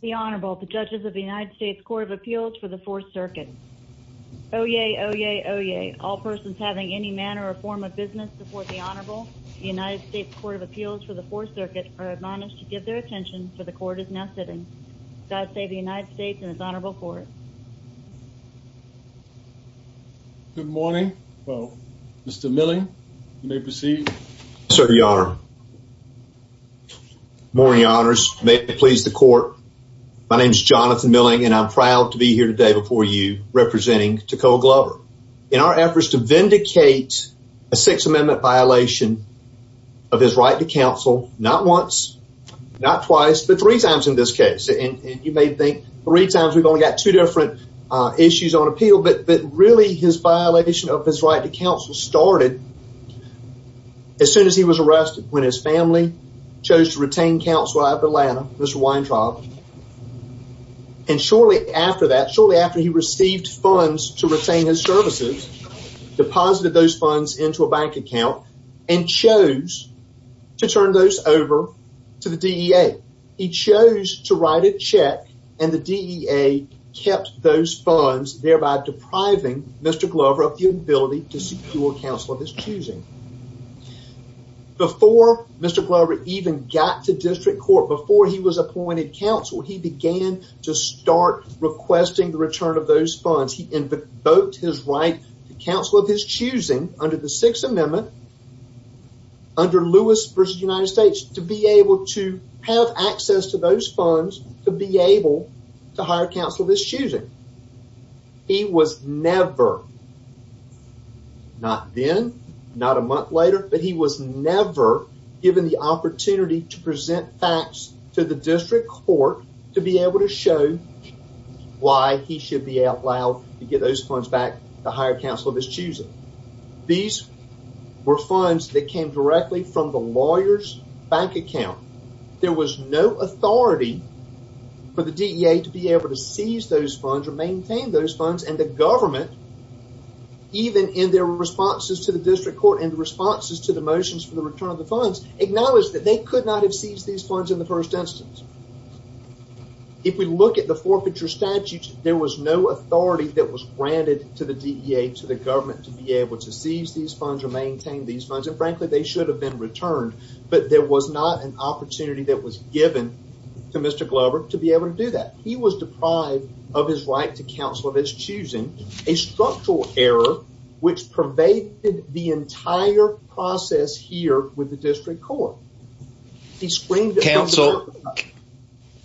the Honorable the judges of the United States Court of Appeals for the Fourth Circuit oh yeah oh yeah oh yeah all persons having any manner or form of business before the Honorable the United States Court of Appeals for the Fourth Circuit are admonished to give their attention for the court is now sitting God save the United States and its Honorable Court good morning well mr. milling may proceed sir the honor morning honors may it please the court my name is Jonathan milling and I'm proud to be here today before you representing Tekoa Glover in our efforts to vindicate a Sixth Amendment violation of his right to counsel not once not twice but three times in this case and you may think three times we've only got two different issues on appeal but really his violation of his right to family chose to retain counselor at Atlanta Mr. Weintraub and shortly after that shortly after he received funds to retain his services deposited those funds into a bank account and chose to turn those over to the DEA he chose to write a check and the DEA kept those funds thereby depriving mr. Glover of the ability to secure counsel of his choosing before mr. Glover even got to district court before he was appointed counsel he began to start requesting the return of those funds he invoked his right to counsel of his choosing under the Sixth Amendment under Lewis versus United States to be able to have access to those funds to be able to hire counsel of his choosing he was never not then not a month later but he was never given the opportunity to present facts to the district court to be able to show why he should be out loud to get those funds back to hire counsel of his choosing these were funds that came directly from the lawyers bank account there was no authority for the DEA to be able to seize those funds or maintain those funds and the government even in their responses to the district court and responses to the motions for the return of the funds acknowledged that they could not have seized these funds in the first instance if we look at the forfeiture statutes there was no authority that was granted to the DEA to the government to be able to seize these maintain these funds and frankly they should have been returned but there was not an opportunity that was given to mr. Glover to be able to do that he was deprived of his right to counsel of his choosing a structural error which pervaded the entire process here with the district court he screamed counsel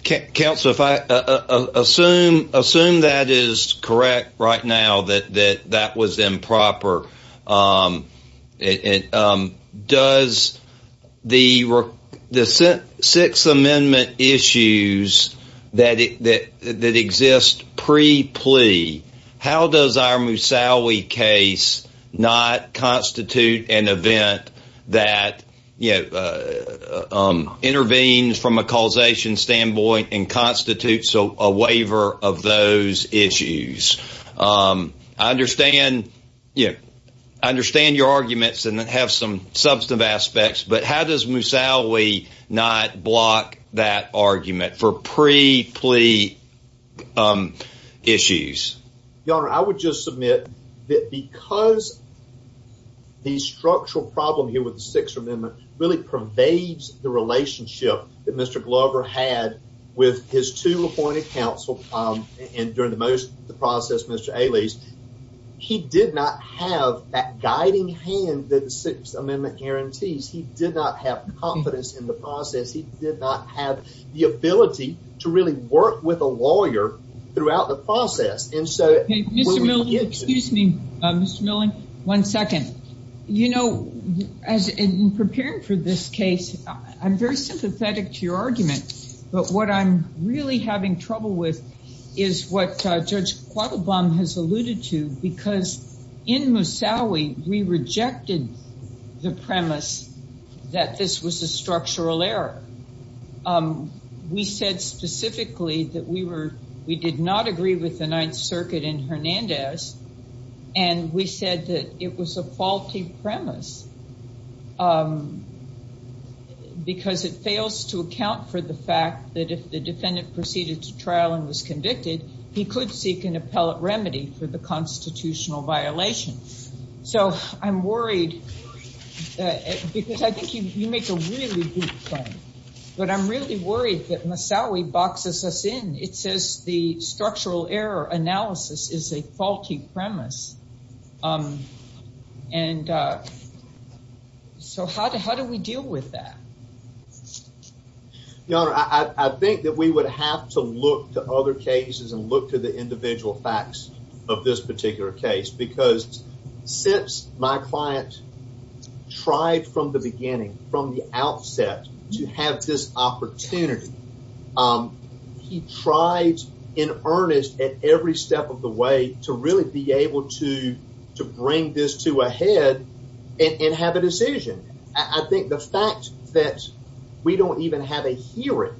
counsel if I assume assume that is correct right now that that that was improper it does the the six amendment issues that it that that exists pre plea how does our Musawi case not constitute an event that you know intervenes from a legalization standpoint and constitutes a waiver of those issues I understand yeah I understand your arguments and that have some substantive aspects but how does Musawi not block that argument for pre plea issues your honor I would just submit that because the structural problem here with the six amendment really pervades the relationship that mr. Glover had with his two appointed counsel and during the most the process mr. Ailey's he did not have that guiding hand that the sixth amendment guarantees he did not have confidence in the process he did not have the ability to really work with a lawyer throughout the for this case I'm very sympathetic to your argument but what I'm really having trouble with is what Judge Quattlebaum has alluded to because in Musawi we rejected the premise that this was a structural error we said specifically that we were we did not agree with the Ninth Circuit in Hernandez and we said it was a faulty premise because it fails to account for the fact that if the defendant proceeded to trial and was convicted he could seek an appellate remedy for the constitutional violation so I'm worried because I think you make a really good point but I'm really worried that Musawi boxes us in it says the structural error analysis is a faulty premise and so how do how do we deal with that? Your honor, I think that we would have to look to other cases and look to the individual facts of this particular case because since my client tried from the beginning from the outset to have this opportunity he tried in earnest at every step of the way to really be able to to bring this to a head and have a decision I think the fact that we don't even have a hearing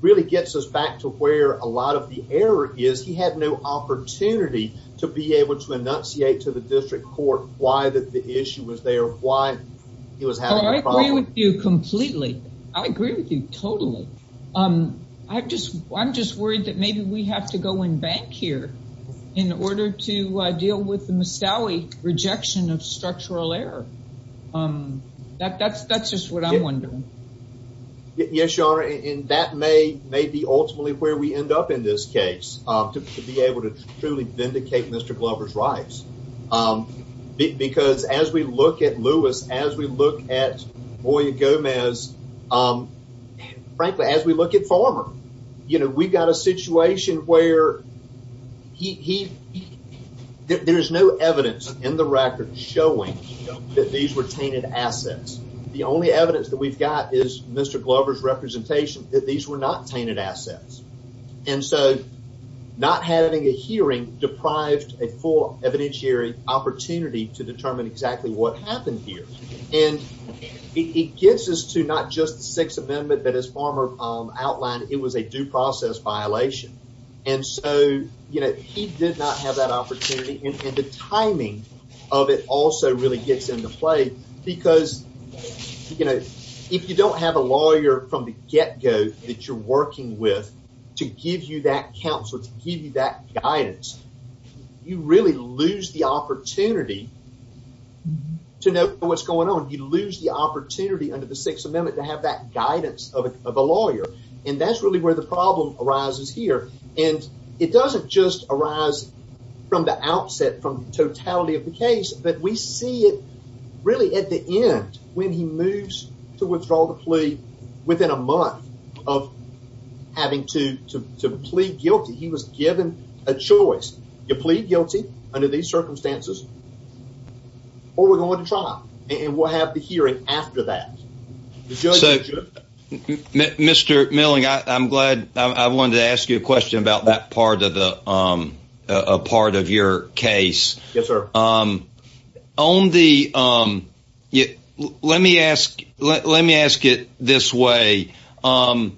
really gets us back to where a lot of the error is he had no opportunity to be able to enunciate to the district court why that the issue was there why he was having a problem. I agree with you completely I agree with you totally um I just I'm just worried that maybe we have to go in bank here in order to deal with the Musawi rejection of structural error that that's that's just what I'm wondering. Yes your honor and that may may be ultimately where we end up in this case to be able to truly vindicate Mr. Glover's rights because as we look at Lewis as we look at Boya Gomez frankly as we look at Farmer you know we got a situation where he there's no evidence in the record showing that these were tainted assets the only evidence that we've got is Mr. Glover's representation that these were not tainted assets and so not having a hearing deprived a full evidentiary opportunity to determine exactly what happened here and it gets us to not just the Sixth Amendment that as Farmer outlined it was a due process violation and so you know he did not have that opportunity and the timing of it also really gets into play because you know if you don't have a lawyer from the get-go that you're working with to give you that counsel to give you that guidance you really lose the opportunity to know what's going on you lose the opportunity under the Sixth and that's really where the problem arises here and it doesn't just arise from the outset from totality of the case but we see it really at the end when he moves to withdraw the plea within a month of having to to plead guilty he was given a choice you plead guilty under these circumstances or we're and we'll have the hearing after that mr. milling I'm glad I wanted to ask you a question about that part of the part of your case yes sir um on the um yeah let me ask let me ask it this way um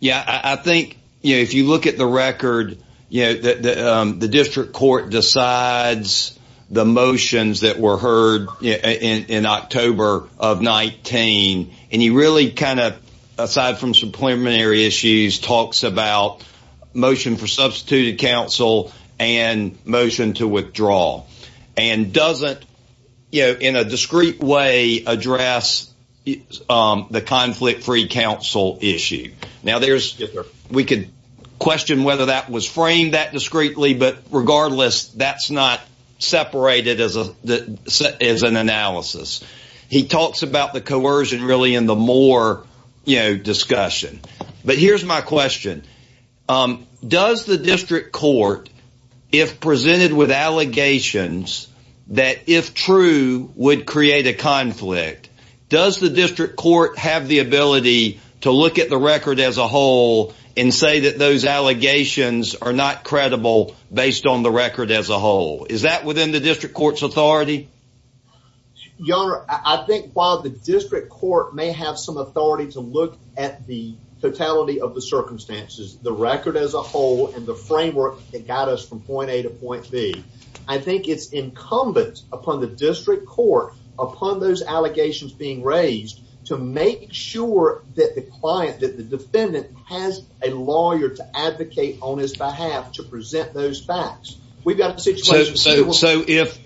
yeah I think you know if you look at the record you know that the district court decides the motions that were heard you know in October of 19 and he really kind of aside from some preliminary issues talks about motion for substituted counsel and motion to withdraw and doesn't you know in a discreet way address the conflict-free counsel issue now there's we could question whether that was framed that discreetly but regardless that's not separated as a that is an analysis he talks about the coercion really in the more you know discussion but here's my question does the district court if presented with allegations that if true would create a conflict does the district court have the ability to look at the record as a whole and say that those allegations are not credible based on the record as a whole is that within the district court's authority I think while the district court may have some authority to look at the totality of the circumstances the record as a whole and the framework that got us from point A to point B I think it's incumbent upon the district court upon those client that the defendant has a lawyer to advocate on his behalf to present those facts we've got so if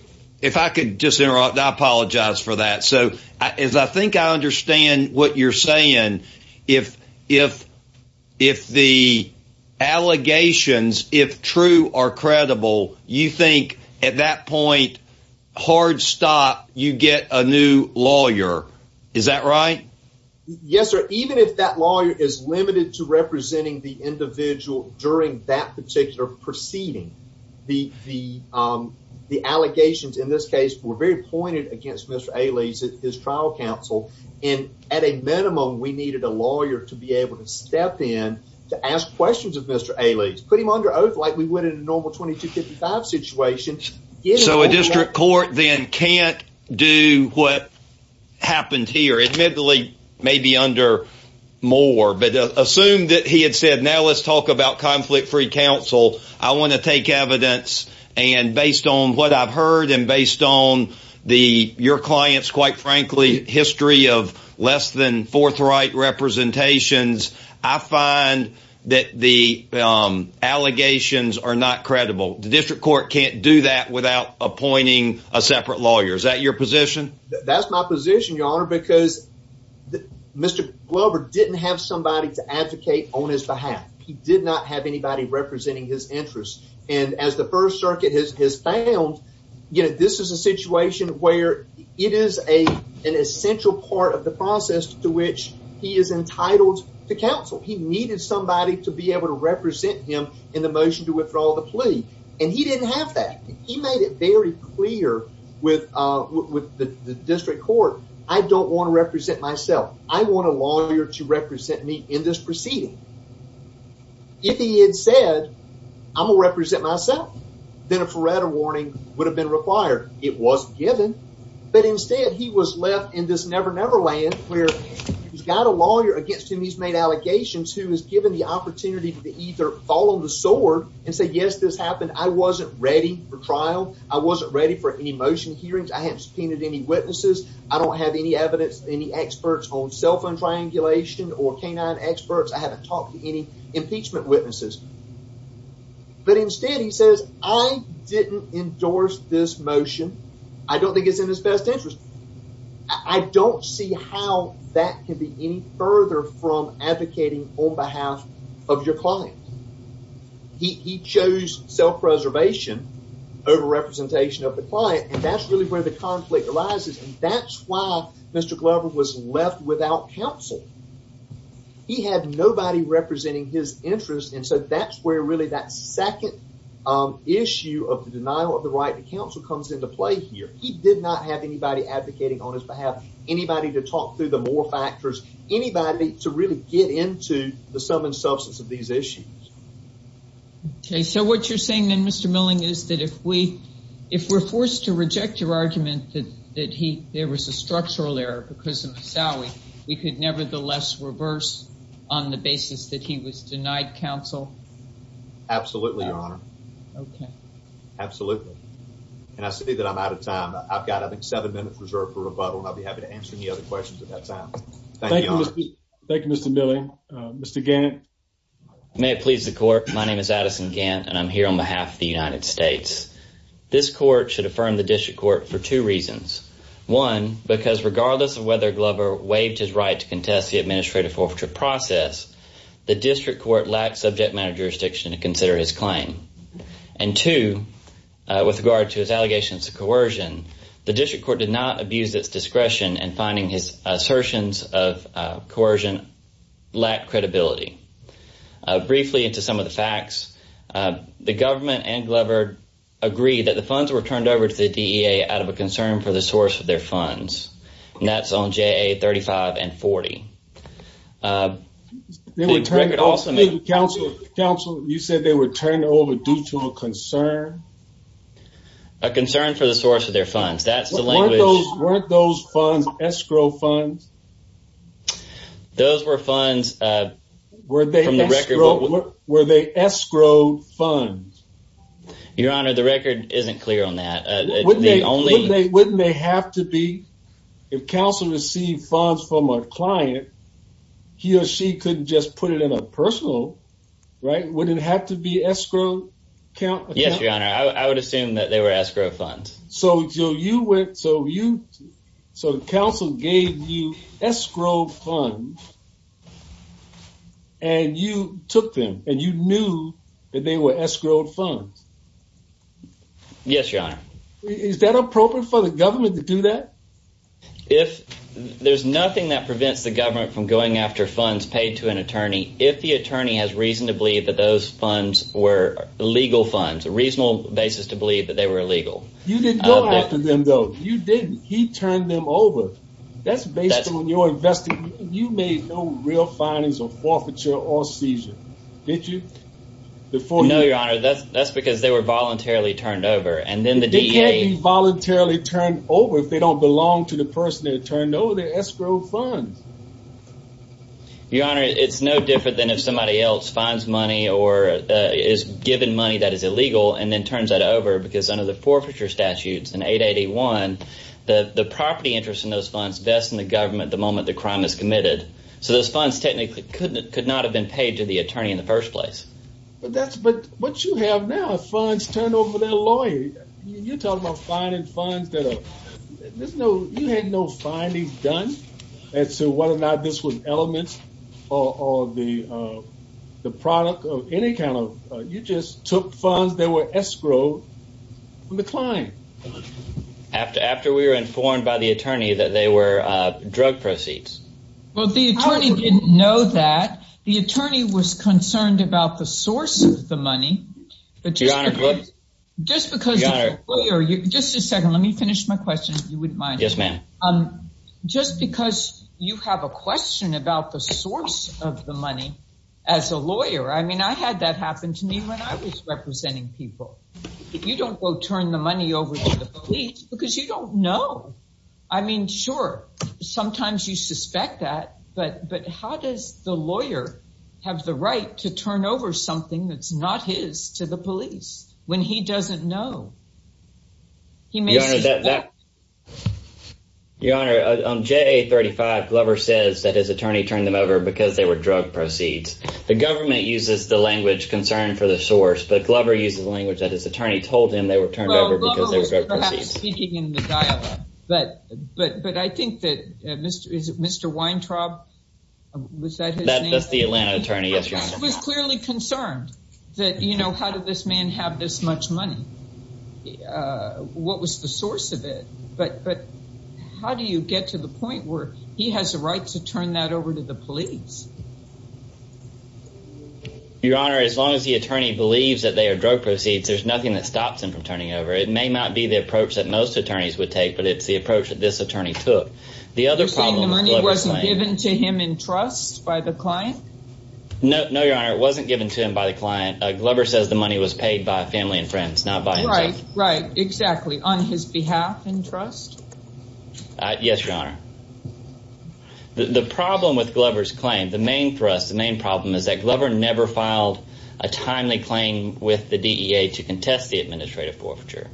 if I could just interrupt I apologize for that so as I think I understand what you're saying if if if the allegations if true are credible you think at that point hard stop you get a new lawyer is that right yes sir even if that lawyer is limited to representing the individual during that particular proceeding the the the allegations in this case were very pointed against mr. Ailey's at his trial counsel and at a minimum we needed a lawyer to be able to step in to ask questions of mr. Ailey's put him under oath like we would in a normal 2255 situation so a district court then can't do what happened here admittedly maybe under more but assume that he had said now let's talk about conflict-free counsel I want to take evidence and based on what I've heard and based on the your clients quite frankly history of less than forthright representations I find that the allegations are not credible district court can't do that without appointing a separate lawyers at your position that's my position your honor because the mr. Glover didn't have somebody to advocate on his behalf he did not have anybody representing his interests and as the First Circuit has found you know this is a situation where it is a an essential part of the process to which he is entitled to counsel he needed somebody to be able to represent him in the motion to withdraw the plea and he didn't have that he made it very clear with with the district court I don't want to represent myself I want a lawyer to represent me in this proceeding if he had said I'm gonna represent myself then a Faretta warning would have been required it was given but instead he was left in this never-never land where he's got a lawyer against him he's made allegations who is given the I wasn't ready for trial I wasn't ready for any motion hearings I haven't subpoenaed any witnesses I don't have any evidence any experts on cell phone triangulation or canine experts I haven't talked to any impeachment witnesses but instead he says I didn't endorse this motion I don't think it's in his best interest I don't see how that could be any further from preservation over representation of the client and that's really where the conflict arises and that's why mr. Glover was left without counsel he had nobody representing his interest and so that's where really that second issue of the denial of the right the council comes into play here he did not have anybody advocating on his behalf anybody to talk through the more factors anybody to really get into the sum and substance of these issues okay so what you're saying in mr. milling is that if we if we're forced to reject your argument that that he there was a structural error because of the salary we could nevertheless reverse on the basis that he was denied counsel absolutely your honor okay absolutely and I see that I'm out of time I've got I think seven minutes reserved for rebuttal I'll be happy to answer any other questions at that time thank you mr. Milley mr. Gannett may it please the court my name is Addison Gantt and I'm here on behalf of the United States this court should affirm the district court for two reasons one because regardless of whether Glover waived his right to contest the administrative forfeiture process the district court lacked subject matter jurisdiction to consider his claim and two with regard to his allegations of coercion the district court did not abuse its discretion and finding his assertions of coercion lack credibility briefly into some of the facts the government and Glover agreed that the funds were turned over to the DEA out of a concern for the source of their funds and that's on ja35 and 40 counsel you said they were turned over due to a concern a concern for the source of their funds that's the language weren't those funds escrow funds those were funds were they from the record were they escrowed funds your honor the record isn't clear on that wouldn't they only wouldn't they have to be if counsel received funds from a client he or she couldn't just put it in a personal right wouldn't have to be escrow count yes your honor I would assume that they were escrow funds so you went so you so the council gave you escrow funds and you took them and you knew that they were escrowed funds yes your honor is that appropriate for the government to do that if there's nothing that prevents the government from going after funds paid to an attorney if the attorney has reason to believe that those funds were legal funds a reasonable basis to believe that they were illegal you didn't go after them though you didn't he turned them over that's based on your investment you made no real findings of forfeiture or seizure did you before no your honor that's that's because they were voluntarily turned over and then the da voluntarily turned over if they don't belong to the person that turned over their escrow funds your honor it's no different than if somebody else finds money or is given money that is illegal and then turns that over because under the forfeiture statutes in 1881 that the property interest in those funds best in the government the moment the crime is committed so those funds technically couldn't could not have been paid to the attorney in the first place but that's but what you have now funds turned over their lawyer you're talking about finding funds that are there's no you had no findings done and so whether or not this was elements or the the product of any kind of you just took funds they were escrow from after after we were informed by the attorney that they were drug proceeds well the attorney didn't know that the attorney was concerned about the source of the money but just because just because you're just a second let me finish my question if you wouldn't mind yes ma'am um just because you have a question about the source of the money as a lawyer I mean I had that happen to me when I was representing people if you don't go turn the money over to the police because you don't know I mean sure sometimes you suspect that but but how does the lawyer have the right to turn over something that's not his to the police when he doesn't know he may know that that your honor on j35 Glover says that his attorney turned them over because they were drug proceeds the government uses the language concern for the source but Glover uses the language that his attorney told him they were turned over but but but I think that mr. is it mr. Weintraub was that that's the Atlanta attorney yes was clearly concerned that you know how did this man have this much money what was the source of it but but how do you get to the point where he has the right to your honor as long as the attorney believes that they are drug proceeds there's nothing that stops him from turning over it may not be the approach that most attorneys would take but it's the approach that this attorney took the other problem wasn't given to him in trust by the client no no your honor it wasn't given to him by the client Glover says the money was paid by family and friends not by right right exactly on his behalf and trust yes your honor the never filed a timely claim with the DEA to contest the administrative forfeiture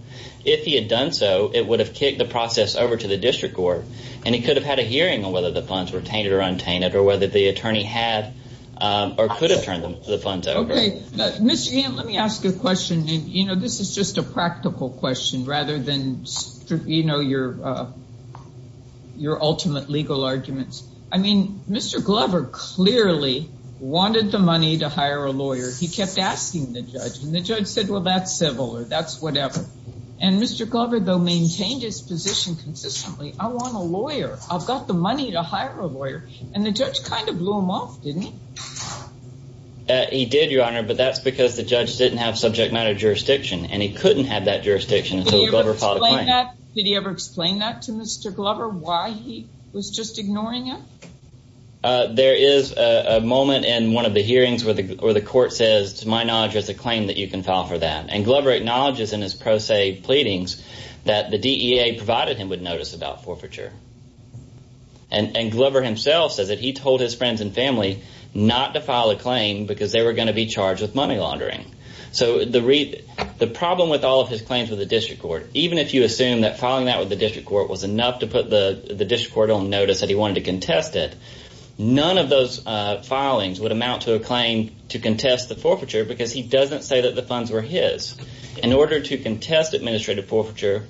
if he had done so it would have kicked the process over to the district court and he could have had a hearing on whether the funds were tainted or untainted or whether the attorney had or could have turned them to the funds okay let me ask you a question you know this is just a practical question rather than you know your your ultimate legal arguments I mean mr. Glover clearly wanted the money to hire a lawyer he kept asking the judge and the judge said well that's civil or that's whatever and mr. Glover though maintained his position consistently I want a lawyer I've got the money to hire a lawyer and the judge kind of blew him off didn't he he did your honor but that's because the judge didn't have subject matter jurisdiction and he couldn't have that jurisdiction did he ever explain that to mr. Glover why he was just ignoring him there is a moment in one of the hearings where the where the court says to my knowledge as a claim that you can file for that and Glover acknowledges in his pro se pleadings that the DEA provided him would notice about forfeiture and and Glover himself says that he told his friends and family not to file a claim because they were going to be charged with money laundering so the read the problem with all of his claims with the district court even if you assume that filing that with the district court was enough to put the the district court on notice that he wanted to contest it none of those filings would amount to a claim to contest the forfeiture because he doesn't say that the funds were his in order to contest administrative forfeiture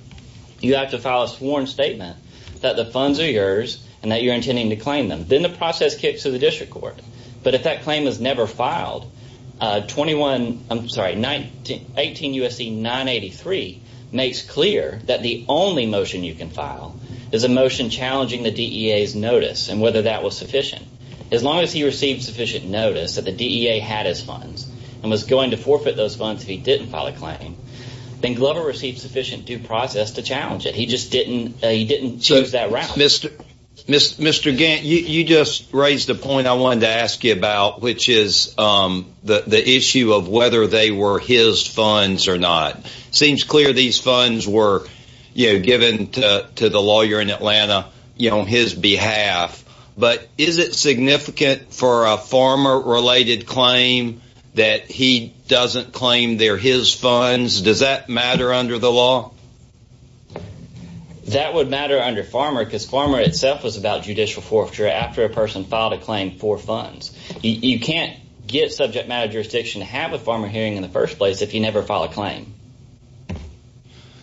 you have to file a sworn statement that the funds are yours and that you're intending to claim them then the process kicks to the district court but if that claim is never filed 21 I'm sorry 19 18 USC 983 makes clear that the only motion you can file is a motion challenging the DEA's notice and whether that was sufficient as long as he received sufficient notice that the DEA had his funds and was going to forfeit those funds he didn't file a claim then Glover received sufficient due process to challenge it he just didn't he didn't choose that round mr. mr. mr. Gantt you just raised a point I wanted to ask you about which is the issue of whether they were his funds or not seems clear these funds were given to the lawyer in Atlanta you know his behalf but is it significant for a farmer related claim that he doesn't claim they're his funds does that matter under the law that would matter under farmer because farmer itself was about judicial forfeiture after a person filed a claim for funds you can't get subject matter jurisdiction to have a farmer hearing in first place if you never file a claim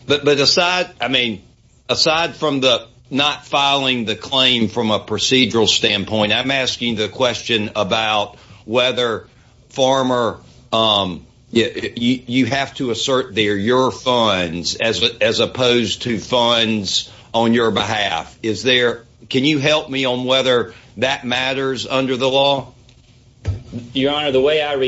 but but aside I mean aside from the not filing the claim from a procedural standpoint I'm asking the question about whether farmer you have to assert their your funds as opposed to funds on your behalf is there can you help me on whether that matters under the law your same approach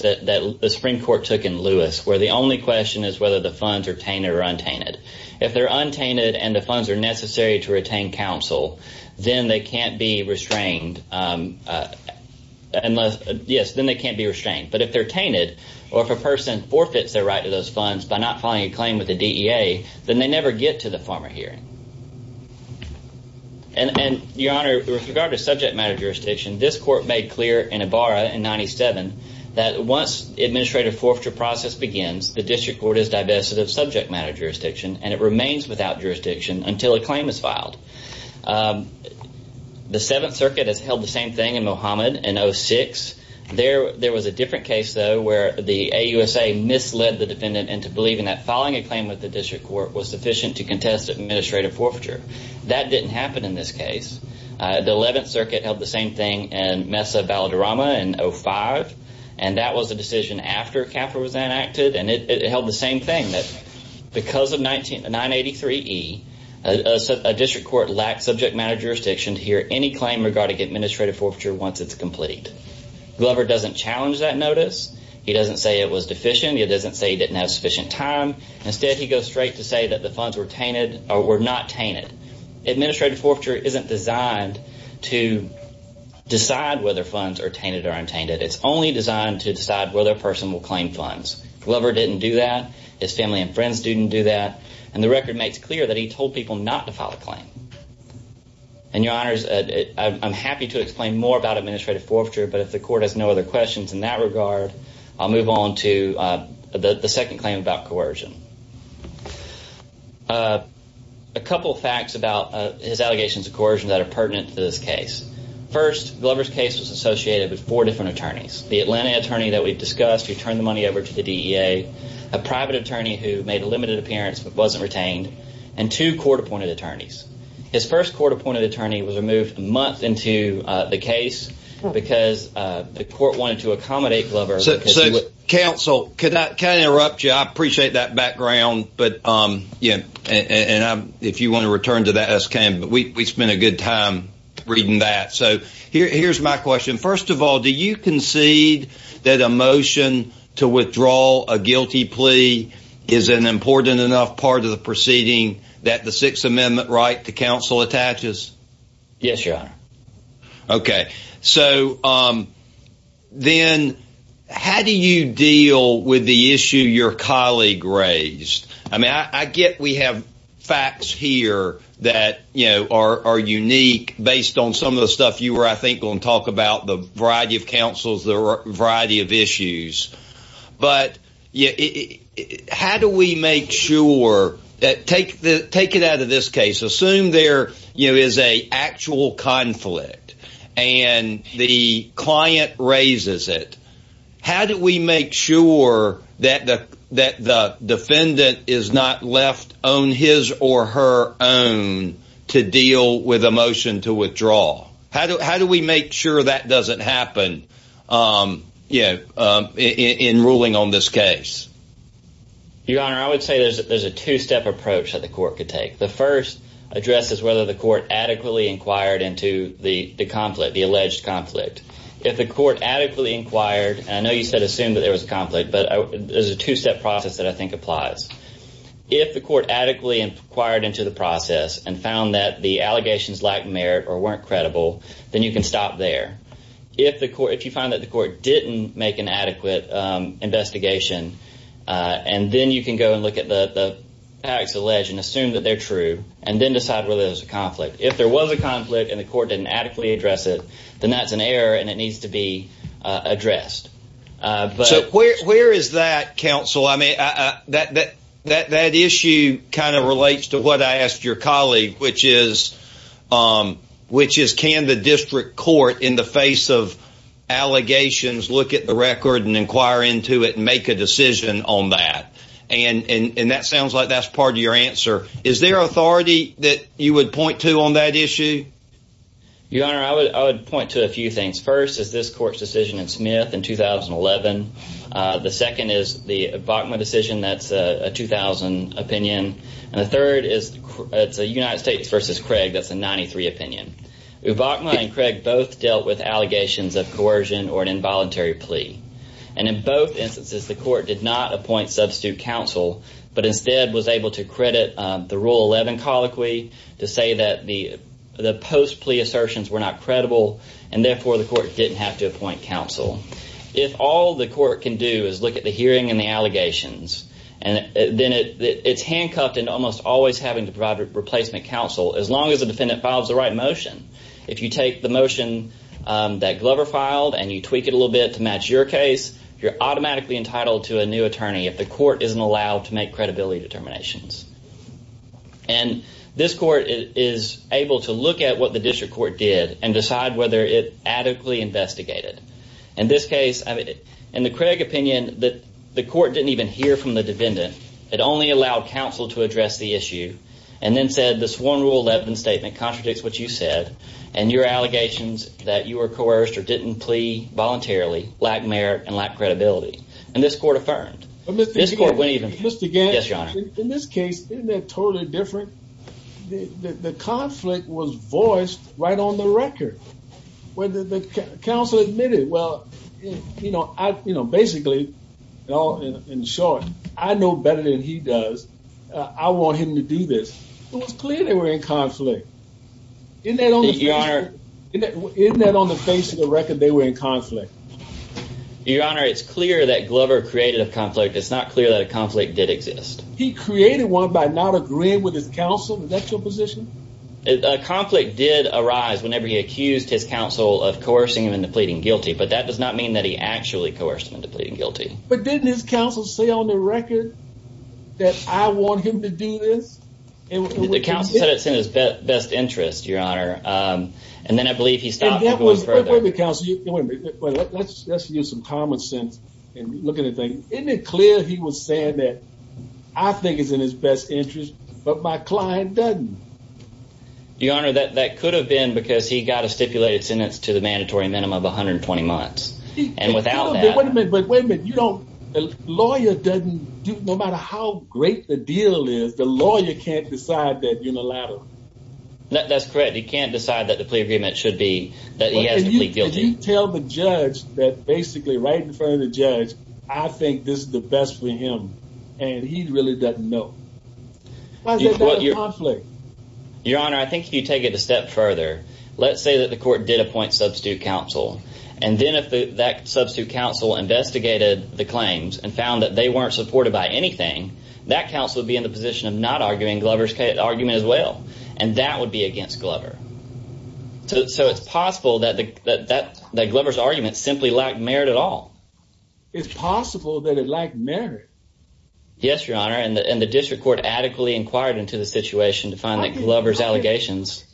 that the Supreme Court took in Lewis where the only question is whether the funds are tainted or untainted if they're untainted and the funds are necessary to retain counsel then they can't be restrained unless yes then they can't be restrained but if they're tainted or if a person forfeits their right to those funds by not filing a claim with the DEA then they never get to the farmer hearing and and your honor with regard to subject matter jurisdiction this court made clear in a bar in 97 that once administrative forfeiture process begins the district court is divested of subject matter jurisdiction and it remains without jurisdiction until a claim is filed the Seventh Circuit has held the same thing in Mohammed and 06 there there was a different case though where the AUSA misled the defendant and to believe in that following a claim with the district court was sufficient to contest administrative forfeiture that didn't happen in this case the 11th Circuit held the same thing and Mesa Valderrama in 05 and that was a decision after capital was enacted and it held the same thing that because of 1998 3e a district court lacked subject matter jurisdiction to hear any claim regarding administrative forfeiture once it's complete Glover doesn't challenge that notice he doesn't say it was deficient it doesn't say he didn't have sufficient time instead he goes straight to say that the funds were tainted or were not decide whether funds are tainted or untainted it's only designed to decide whether a person will claim funds Glover didn't do that his family and friends didn't do that and the record makes clear that he told people not to file a claim and your honors I'm happy to explain more about administrative forfeiture but if the court has no other questions in that regard I'll move on to the the second claim about coercion a couple facts about his allegations of this case first Glover's case was associated with four different attorneys the Atlanta attorney that we've discussed you turn the money over to the DEA a private attorney who made a limited appearance but wasn't retained and two court-appointed attorneys his first court-appointed attorney was removed a month into the case because the court wanted to accommodate Glover so council could not can interrupt you I appreciate that background but um yeah and if you want to return to that as can but we spent a good time reading that so here's my question first of all do you concede that a motion to withdraw a guilty plea is an important enough part of the proceeding that the Sixth Amendment right to counsel attaches yes your honor okay so then how do you deal with the issue your colleague raised I mean I get we have facts here that you know are unique based on some of the stuff you were I think going to talk about the variety of councils there are a variety of issues but yeah how do we make sure that take the take it out of this case assume there you know is a actual conflict and the client raises it how do we make sure that the that the defendant is not left on his or her own to deal with a motion to withdraw how do how do we make sure that doesn't happen you know in ruling on this case your honor I would say there's a two-step approach that the court could take the first address is whether the court adequately inquired into the the conflict the alleged conflict if the court adequately inquired I know you said assume that there was a conflict but there's a two-step process that I think applies if the court adequately inquired into the process and found that the allegations lack merit or weren't credible then you can stop there if the court if you find that the court didn't make an adequate investigation and then you can go and look at the the acts alleged and assume that they're true and then decide whether there's a conflict if there was a conflict and the court didn't adequately address it then that's an error and it needs to be addressed but where is that counsel I mean that that that issue kind of relates to what I asked your colleague which is which is can the district court in the face of allegations look at the record and inquire into it and make a decision on that and and and that sounds like that's part of your answer is there authority that you would point to on that issue you honor I would point to a few things first is this court's decision in Smith in 2011 the second is the Bachmann decision that's a 2000 opinion and the third is it's a United States versus Craig that's a 93 opinion who Bachmann and Craig both dealt with allegations of coercion or an involuntary plea and in both instances the court did not appoint substitute counsel but instead was able to credit the rule 11 colloquy to say that the the post plea assertions were not credible and therefore the court didn't have to appoint counsel if all the court can do is look at the hearing and the allegations and then it's handcuffed and almost always having to provide a replacement counsel as long as the defendant files the right motion if you take the motion that Glover filed and you tweak it a little bit to match your case you're automatically entitled to a new attorney if the court isn't allowed to make credibility determinations and this court is able to look at what the district court did and decide whether it adequately investigated in this case I mean in the Craig opinion that the court didn't even hear from the defendant it only allowed counsel to address the issue and then said this one rule 11 statement contradicts what you said and your allegations that you were coerced or didn't plea voluntarily lack merit and lack credibility and this court affirmed in this case the conflict was voiced right on the record whether the council admitted well you know I you know basically in short I know better than he does I want him to do this it in that only your honor isn't that on the face of the record they were in conflict your honor it's clear that Glover created a conflict it's not clear that a conflict did exist he created one by not agreeing with his counsel that's your position a conflict did arise whenever he accused his counsel of coercing him into pleading guilty but that does not mean that he actually coerced him into pleading guilty but didn't his counsel say on the record that I want him to do this and the council said it's in his best interest your honor and then I believe he stopped the counselor let's use some common sense and look anything isn't it clear he was saying that I think it's in his best interest but my client doesn't your honor that that could have been because he got a stipulated sentence to the mandatory minimum of 120 months and wait a minute you don't lawyer doesn't do no matter how great the deal is the lawyer can't decide that unilateral that's correct he can't decide that the plea agreement should be that he has to plead guilty tell the judge that basically right in front of the judge I think this is the best for him and he really doesn't know your honor I think if you take it a step further let's say that the court did appoint substitute counsel and then if that substitute counsel investigated the claims and found that they weren't supported by anything that counsel would be in the position of not arguing Glover's argument as well and that would be against Glover so it's possible that the that that Glover's argument simply lacked merit at all it's possible that it lacked merit yes your honor and the district court adequately inquired into the situation to find that Glover's allegations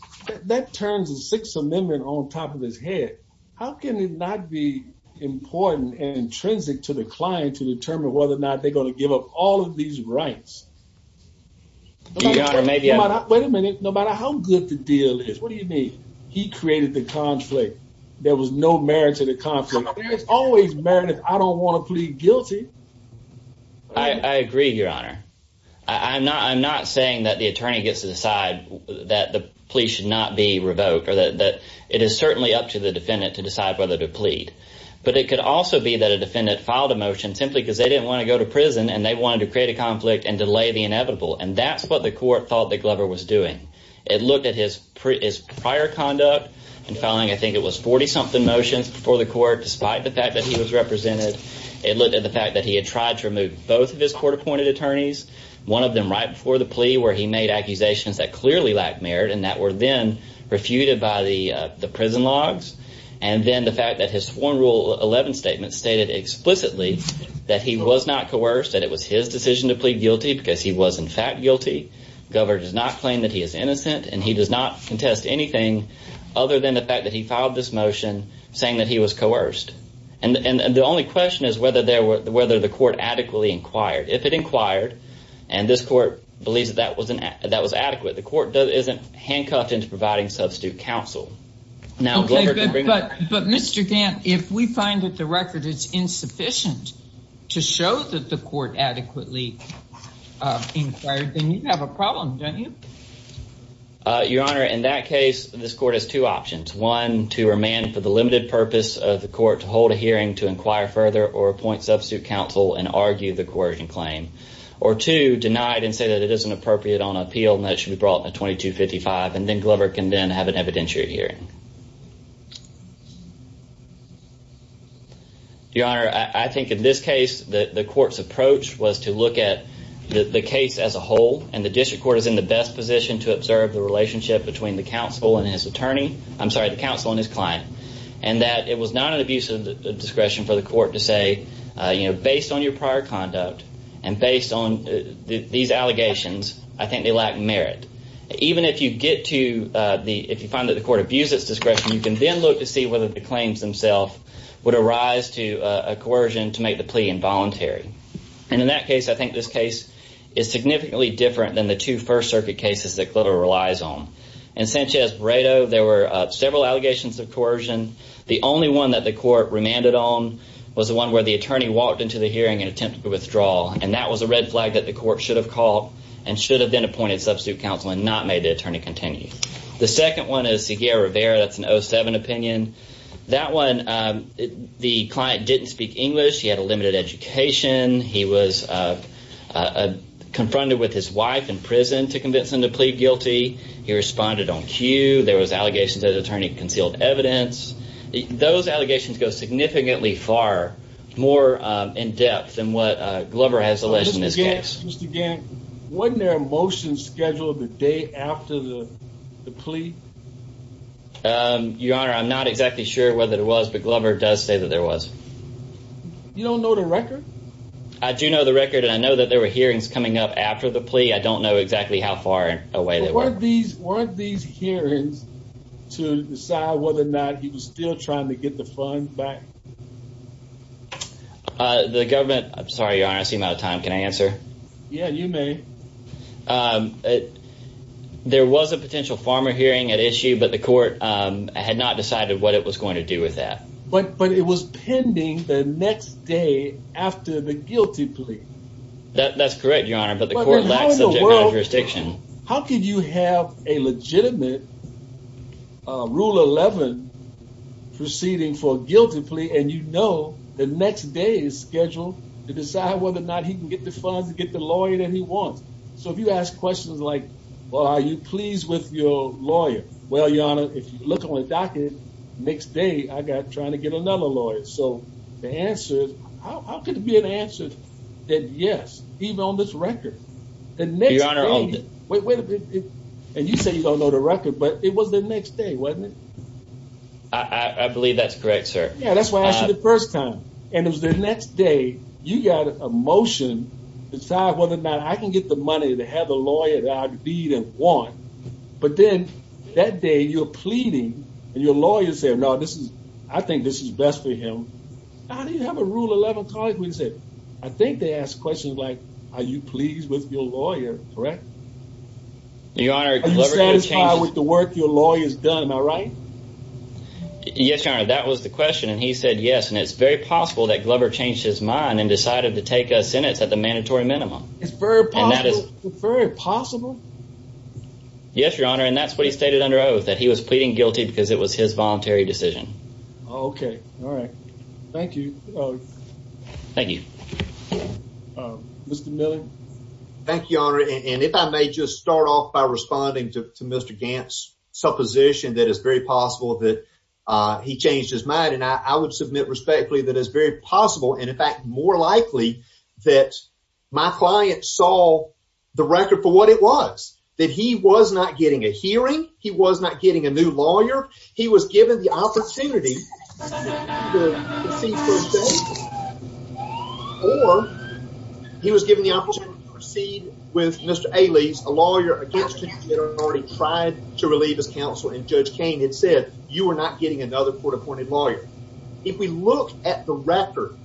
that turns the Sixth Amendment on top of his head how can it not be important and intrinsic to the client to determine whether or not they're going to give up all of these rights or maybe I'm not wait a minute no matter how good the deal is what do you mean he created the conflict there was no merit to the conflict there's always merit I don't want to plead guilty I agree your honor I'm not I'm not saying that the attorney gets to decide that the plea should not be revoked or that that it is certainly up to the defendant to decide whether to plead but it could also be that a defendant filed a motion simply because they didn't want to go to prison and they wanted to create a conflict and delay the inevitable and that's what the court thought that Glover was doing it looked at his previous prior conduct and filing I think it was 40-something motions for the court despite the fact that he was represented it looked at the fact that he had tried to remove both of his court-appointed attorneys one of them right before the plea where he made accusations that clearly lacked merit and that were then refuted by the the prison logs and then the fact that his sworn rule 11 statement stated explicitly that he was not coerced that it was his decision to plead guilty because he was in fact guilty Glover does not claim that he is innocent and he does not contest anything other than the fact that he filed this motion saying that he was coerced and and the only question is whether there were whether the court adequately inquired if it inquired and this court believes that wasn't that was adequate the court isn't handcuffed into providing substitute counsel now but but mr. Dan if we find that the record is insufficient to show that the court adequately you have a problem don't you your honor in that case this court has two options one to remand for the limited purpose of the court to hold a hearing to inquire further or appoint substitute counsel and argue the coercion claim or to denied and say that it isn't appropriate on appeal that should be brought to 2255 and then Glover can then have an evidentiary hearing your honor I think in this case that the court's approach was to look at the case as a whole and the district court is in the best position to observe the relationship between the council and his attorney I'm sorry the council and his client and that it was not an abuse of the discretion for the court to say you know based on your prior conduct and based on these allegations I think they lack merit even if you get to the if you find that the court abuse its discretion you can then look to see whether the claims themselves would arise to a coercion to make the plea involuntary and in that case I think this case is significantly different than the two first circuit cases that the only one that the court remanded on was the one where the attorney walked into the hearing and attempt to withdraw and that was a red flag that the court should have called and should have been appointed substitute counsel and not made it turn to continue the second one is the year of air that's no seven opinion that one the client didn't speak English he had a limited education he was confronted with his wife in prison to convince him to plead guilty he was allegations that attorney concealed evidence those allegations go significantly far more in depth than what Glover has alleged in this case again wasn't there a motion scheduled the day after the plea your honor I'm not exactly sure whether it was but Glover does say that there was you don't know the record I do know the record and I know that there were hearings coming up after the plea I don't know exactly how far away they weren't these weren't these hearings to decide whether or not he was still trying to get the funds back the government I'm sorry your honor I seem out of time can I answer yeah you may it there was a potential farmer hearing at issue but the court had not decided what it was going to do with that but but it was pending the next day after the guilty plea that that's correct your honor but the court lacks how could you have a legitimate rule 11 proceeding for guilty plea and you know the next day is scheduled to decide whether or not he can get the funds to get the lawyer that he wants so if you ask questions like well are you pleased with your lawyer well your honor if you look on a docket next day I got trying to get another lawyer so the answer how could it be an answer that yes even on this record and maybe on our own and you say you don't know the record but it was the next day wasn't it I believe that's correct sir yeah that's why I asked you the first time and it was the next day you got a motion decide whether or not I can get the money to have a lawyer that I'd even want but then that day you're pleading and your lawyer said no this is I think this is best for him I didn't have a rule 11 cause we said I think they asked questions like are you pleased with your lawyer correct your honor with the work your lawyers done all right yes your honor that was the question and he said yes and it's very possible that Glover changed his mind and decided to take a sentence at the mandatory minimum it's very possible very possible yes your honor and that's what he stated under oath that he was pleading guilty because it was his thank you thank you mr. Miller thank you honor and if I may just start off by responding to mr. Gantz supposition that is very possible that he changed his mind and I would submit respectfully that is very possible and in fact more likely that my client saw the record for what it was that he was not getting a lawyer he was given the opportunity or he was given the opportunity to proceed with mr. Ailey's a lawyer against him already tried to relieve his counsel and judge Cain had said you are not getting another court-appointed lawyer if we look at the record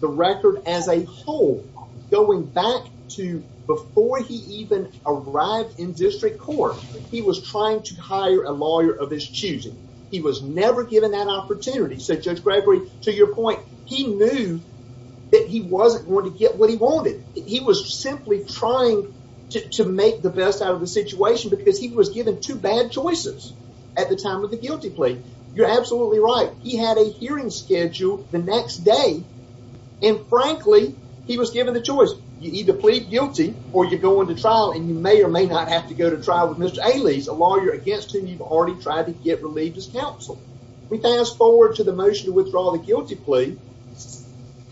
the record as a whole going back to before he even arrived in this choosing he was never given that opportunity so judge Gregory to your point he knew that he wasn't going to get what he wanted he was simply trying to make the best out of the situation because he was given two bad choices at the time of the guilty plea you're absolutely right he had a hearing schedule the next day and frankly he was given the choice you either plead guilty or you're going to trial and you may or may not have to go to trial with mr. to get relieved his counsel we fast forward to the motion to withdraw the guilty plea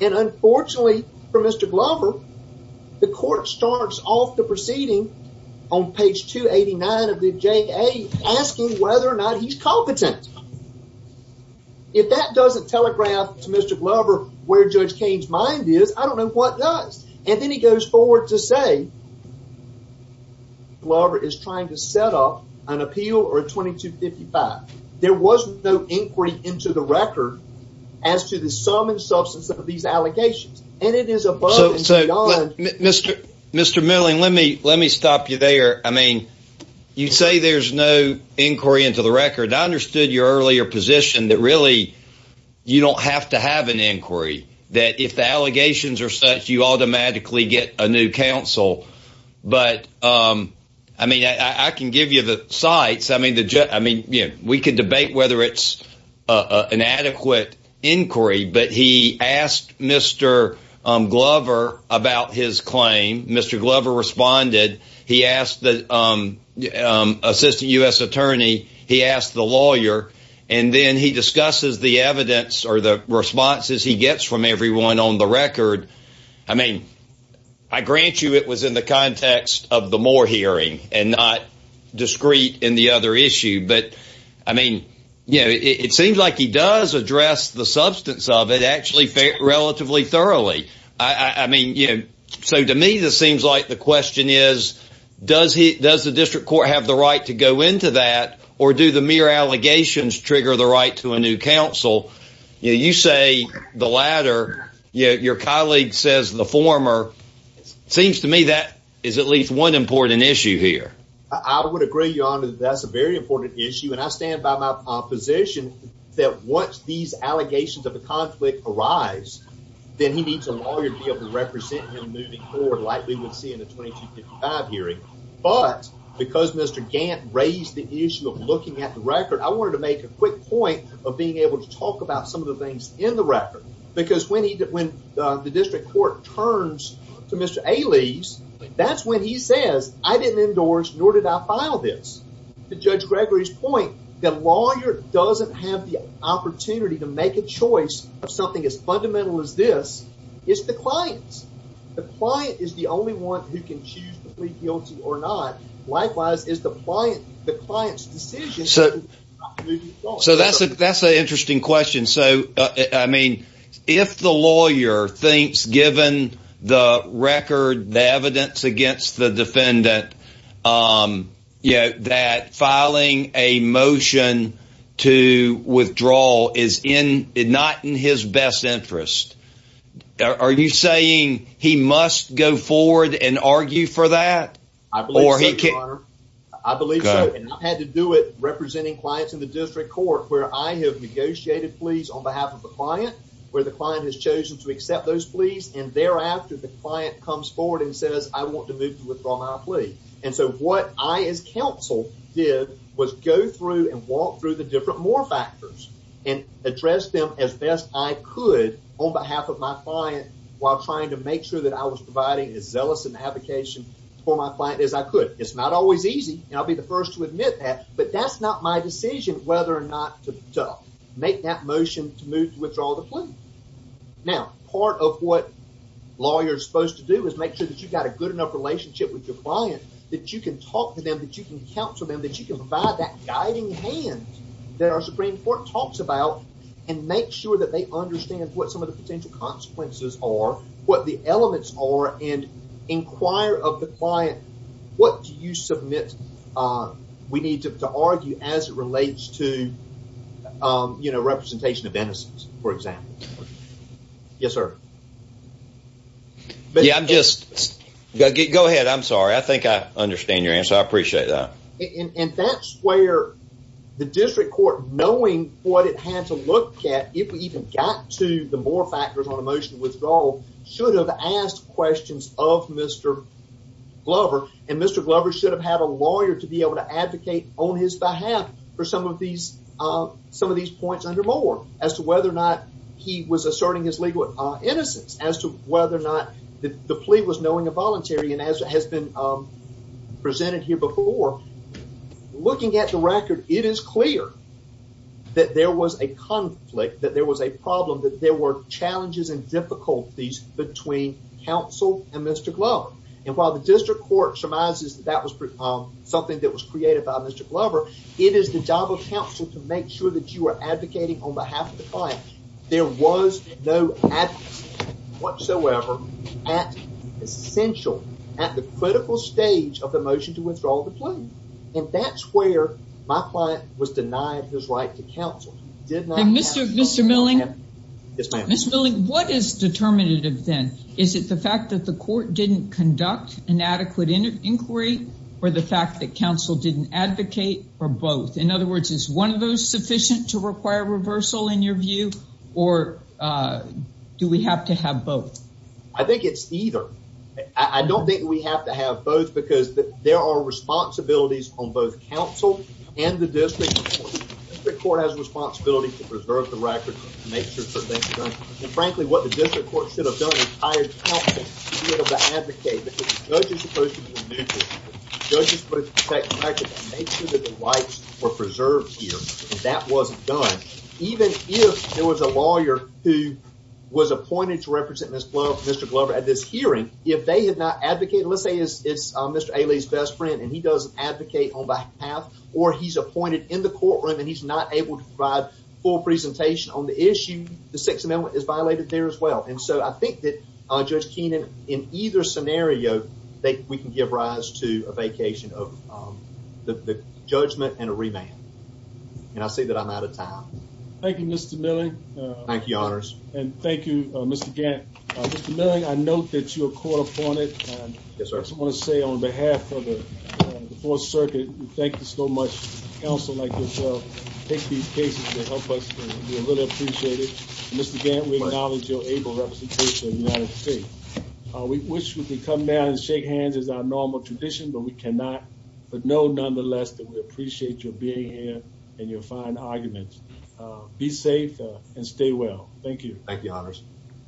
and unfortunately for mr. Glover the court starts off the proceeding on page 289 of the J a asking whether or not he's competent if that doesn't telegraph to mr. Glover where judge Cain's mind is I don't know what does and then he goes forward to say Glover is trying to set up an appeal or 2255 there was no inquiry into the record as to the sum and substance of these allegations and it is above mr. mr. milling let me let me stop you there I mean you say there's no inquiry into the record I understood your earlier position that really you don't have to have an inquiry that if the allegations are such you automatically get a new counsel but I mean I can give you the sites I mean the jet I mean yeah we could debate whether it's an adequate inquiry but he asked mr. Glover about his claim mr. Glover responded he asked the assistant US attorney he asked the lawyer and then he discusses the evidence or the responses he gets from everyone on the record I mean I grant you it was in the context of the more hearing and not discreet in the other issue but I mean you know it seems like he does address the substance of it actually relatively thoroughly I mean you know so to me this seems like the question is does he does the district court have the right to go into that or do the mere allegations trigger the right to a new counsel you say the your colleague says the former seems to me that is at least one important issue here I would agree your honor that's a very important issue and I stand by my position that once these allegations of the conflict arrives then he needs a lawyer to be able to represent him moving forward like we would see in a 2255 hearing but because mr. Gantt raised the issue of looking at the record I wanted to make a quick point of being able to talk about some of the things in the record because when he did when the district court turns to mr. A leaves that's when he says I didn't endorse nor did I file this the judge Gregory's point that lawyer doesn't have the opportunity to make a choice of something as fundamental as this is the clients the client is the only one who can choose to plead guilty or not likewise is the client the I mean if the lawyer thinks given the record the evidence against the defendant you know that filing a motion to withdraw is in it not in his best interest are you saying he must go forward and argue for that I believe I believe I had to do it representing clients in the district court where I have negotiated please on behalf of the client where the client has chosen to accept those pleas and thereafter the client comes forward and says I want to move to withdraw my plea and so what I as counsel did was go through and walk through the different more factors and address them as best I could on behalf of my client while trying to make sure that I was providing as zealous an application for my client as I could it's not always easy and I'll be the whether or not to make that motion to move to withdraw the plane now part of what lawyers supposed to do is make sure that you've got a good enough relationship with your client that you can talk to them that you can counsel them that you can provide that guiding hand that our Supreme Court talks about and make sure that they understand what some of the potential consequences are what the elements are and inquire of the client what do you submit we need to argue as it relates to you know representation of innocence for example yes sir but yeah I'm just go ahead I'm sorry I think I understand your answer I appreciate that and that's where the district court knowing what it had to look at if we even got to the more factors on a motion withdrawal should have asked questions of mr. Glover and mr. Glover should have had a lawyer to be able to advocate on his behalf for some of these some of these points under more as to whether or not he was asserting his legal innocence as to whether or not the plea was knowing a voluntary and as it has been presented here before looking at the record it is clear that there was a conflict that there was a problem that there were challenges and difficulties between counsel and mr. Glover and while the district court surmises that was something that was created by mr. Glover it is the job of counsel to make sure that you are advocating on behalf of the client there was no at whatsoever at essential at the critical stage of the motion to withdraw the plane and that's where my client was denied his right to counsel did not mr. mr. milling yes miss milling what is determinative then is it the fact that the court didn't conduct an adequate inquiry or the fact that counsel didn't advocate or both in other words is one of those sufficient to require reversal in your view or do we have to have both I think it's either I don't think we have to have both because there are responsibilities on both counsel and the district the court has responsibility to preserve the record make sure frankly what the judges supposed to do make sure that the rights were preserved here that wasn't done even if there was a lawyer who was appointed to represent mr. Glover at this hearing if they had not advocated let's say it's mr. Ailey's best friend and he does advocate on behalf or he's appointed in the courtroom and he's not able to provide full presentation on the issue the Sixth Amendment is violated there as well and so I think that judge Keenan in either scenario they we can give rise to a vacation of the judgment and a remand and I say that I'm out of time thank you mr. Miller thank you honors and thank you mr. Gantt knowing I note that you're caught up on it yes I want to say on behalf of the Fourth Circuit thank you so much also like to take these cases to help us really appreciate it we wish we could come down and shake hands as our normal tradition but we cannot but know nonetheless that we appreciate your being here and your fine arguments be safe and stay well thank you thank you honors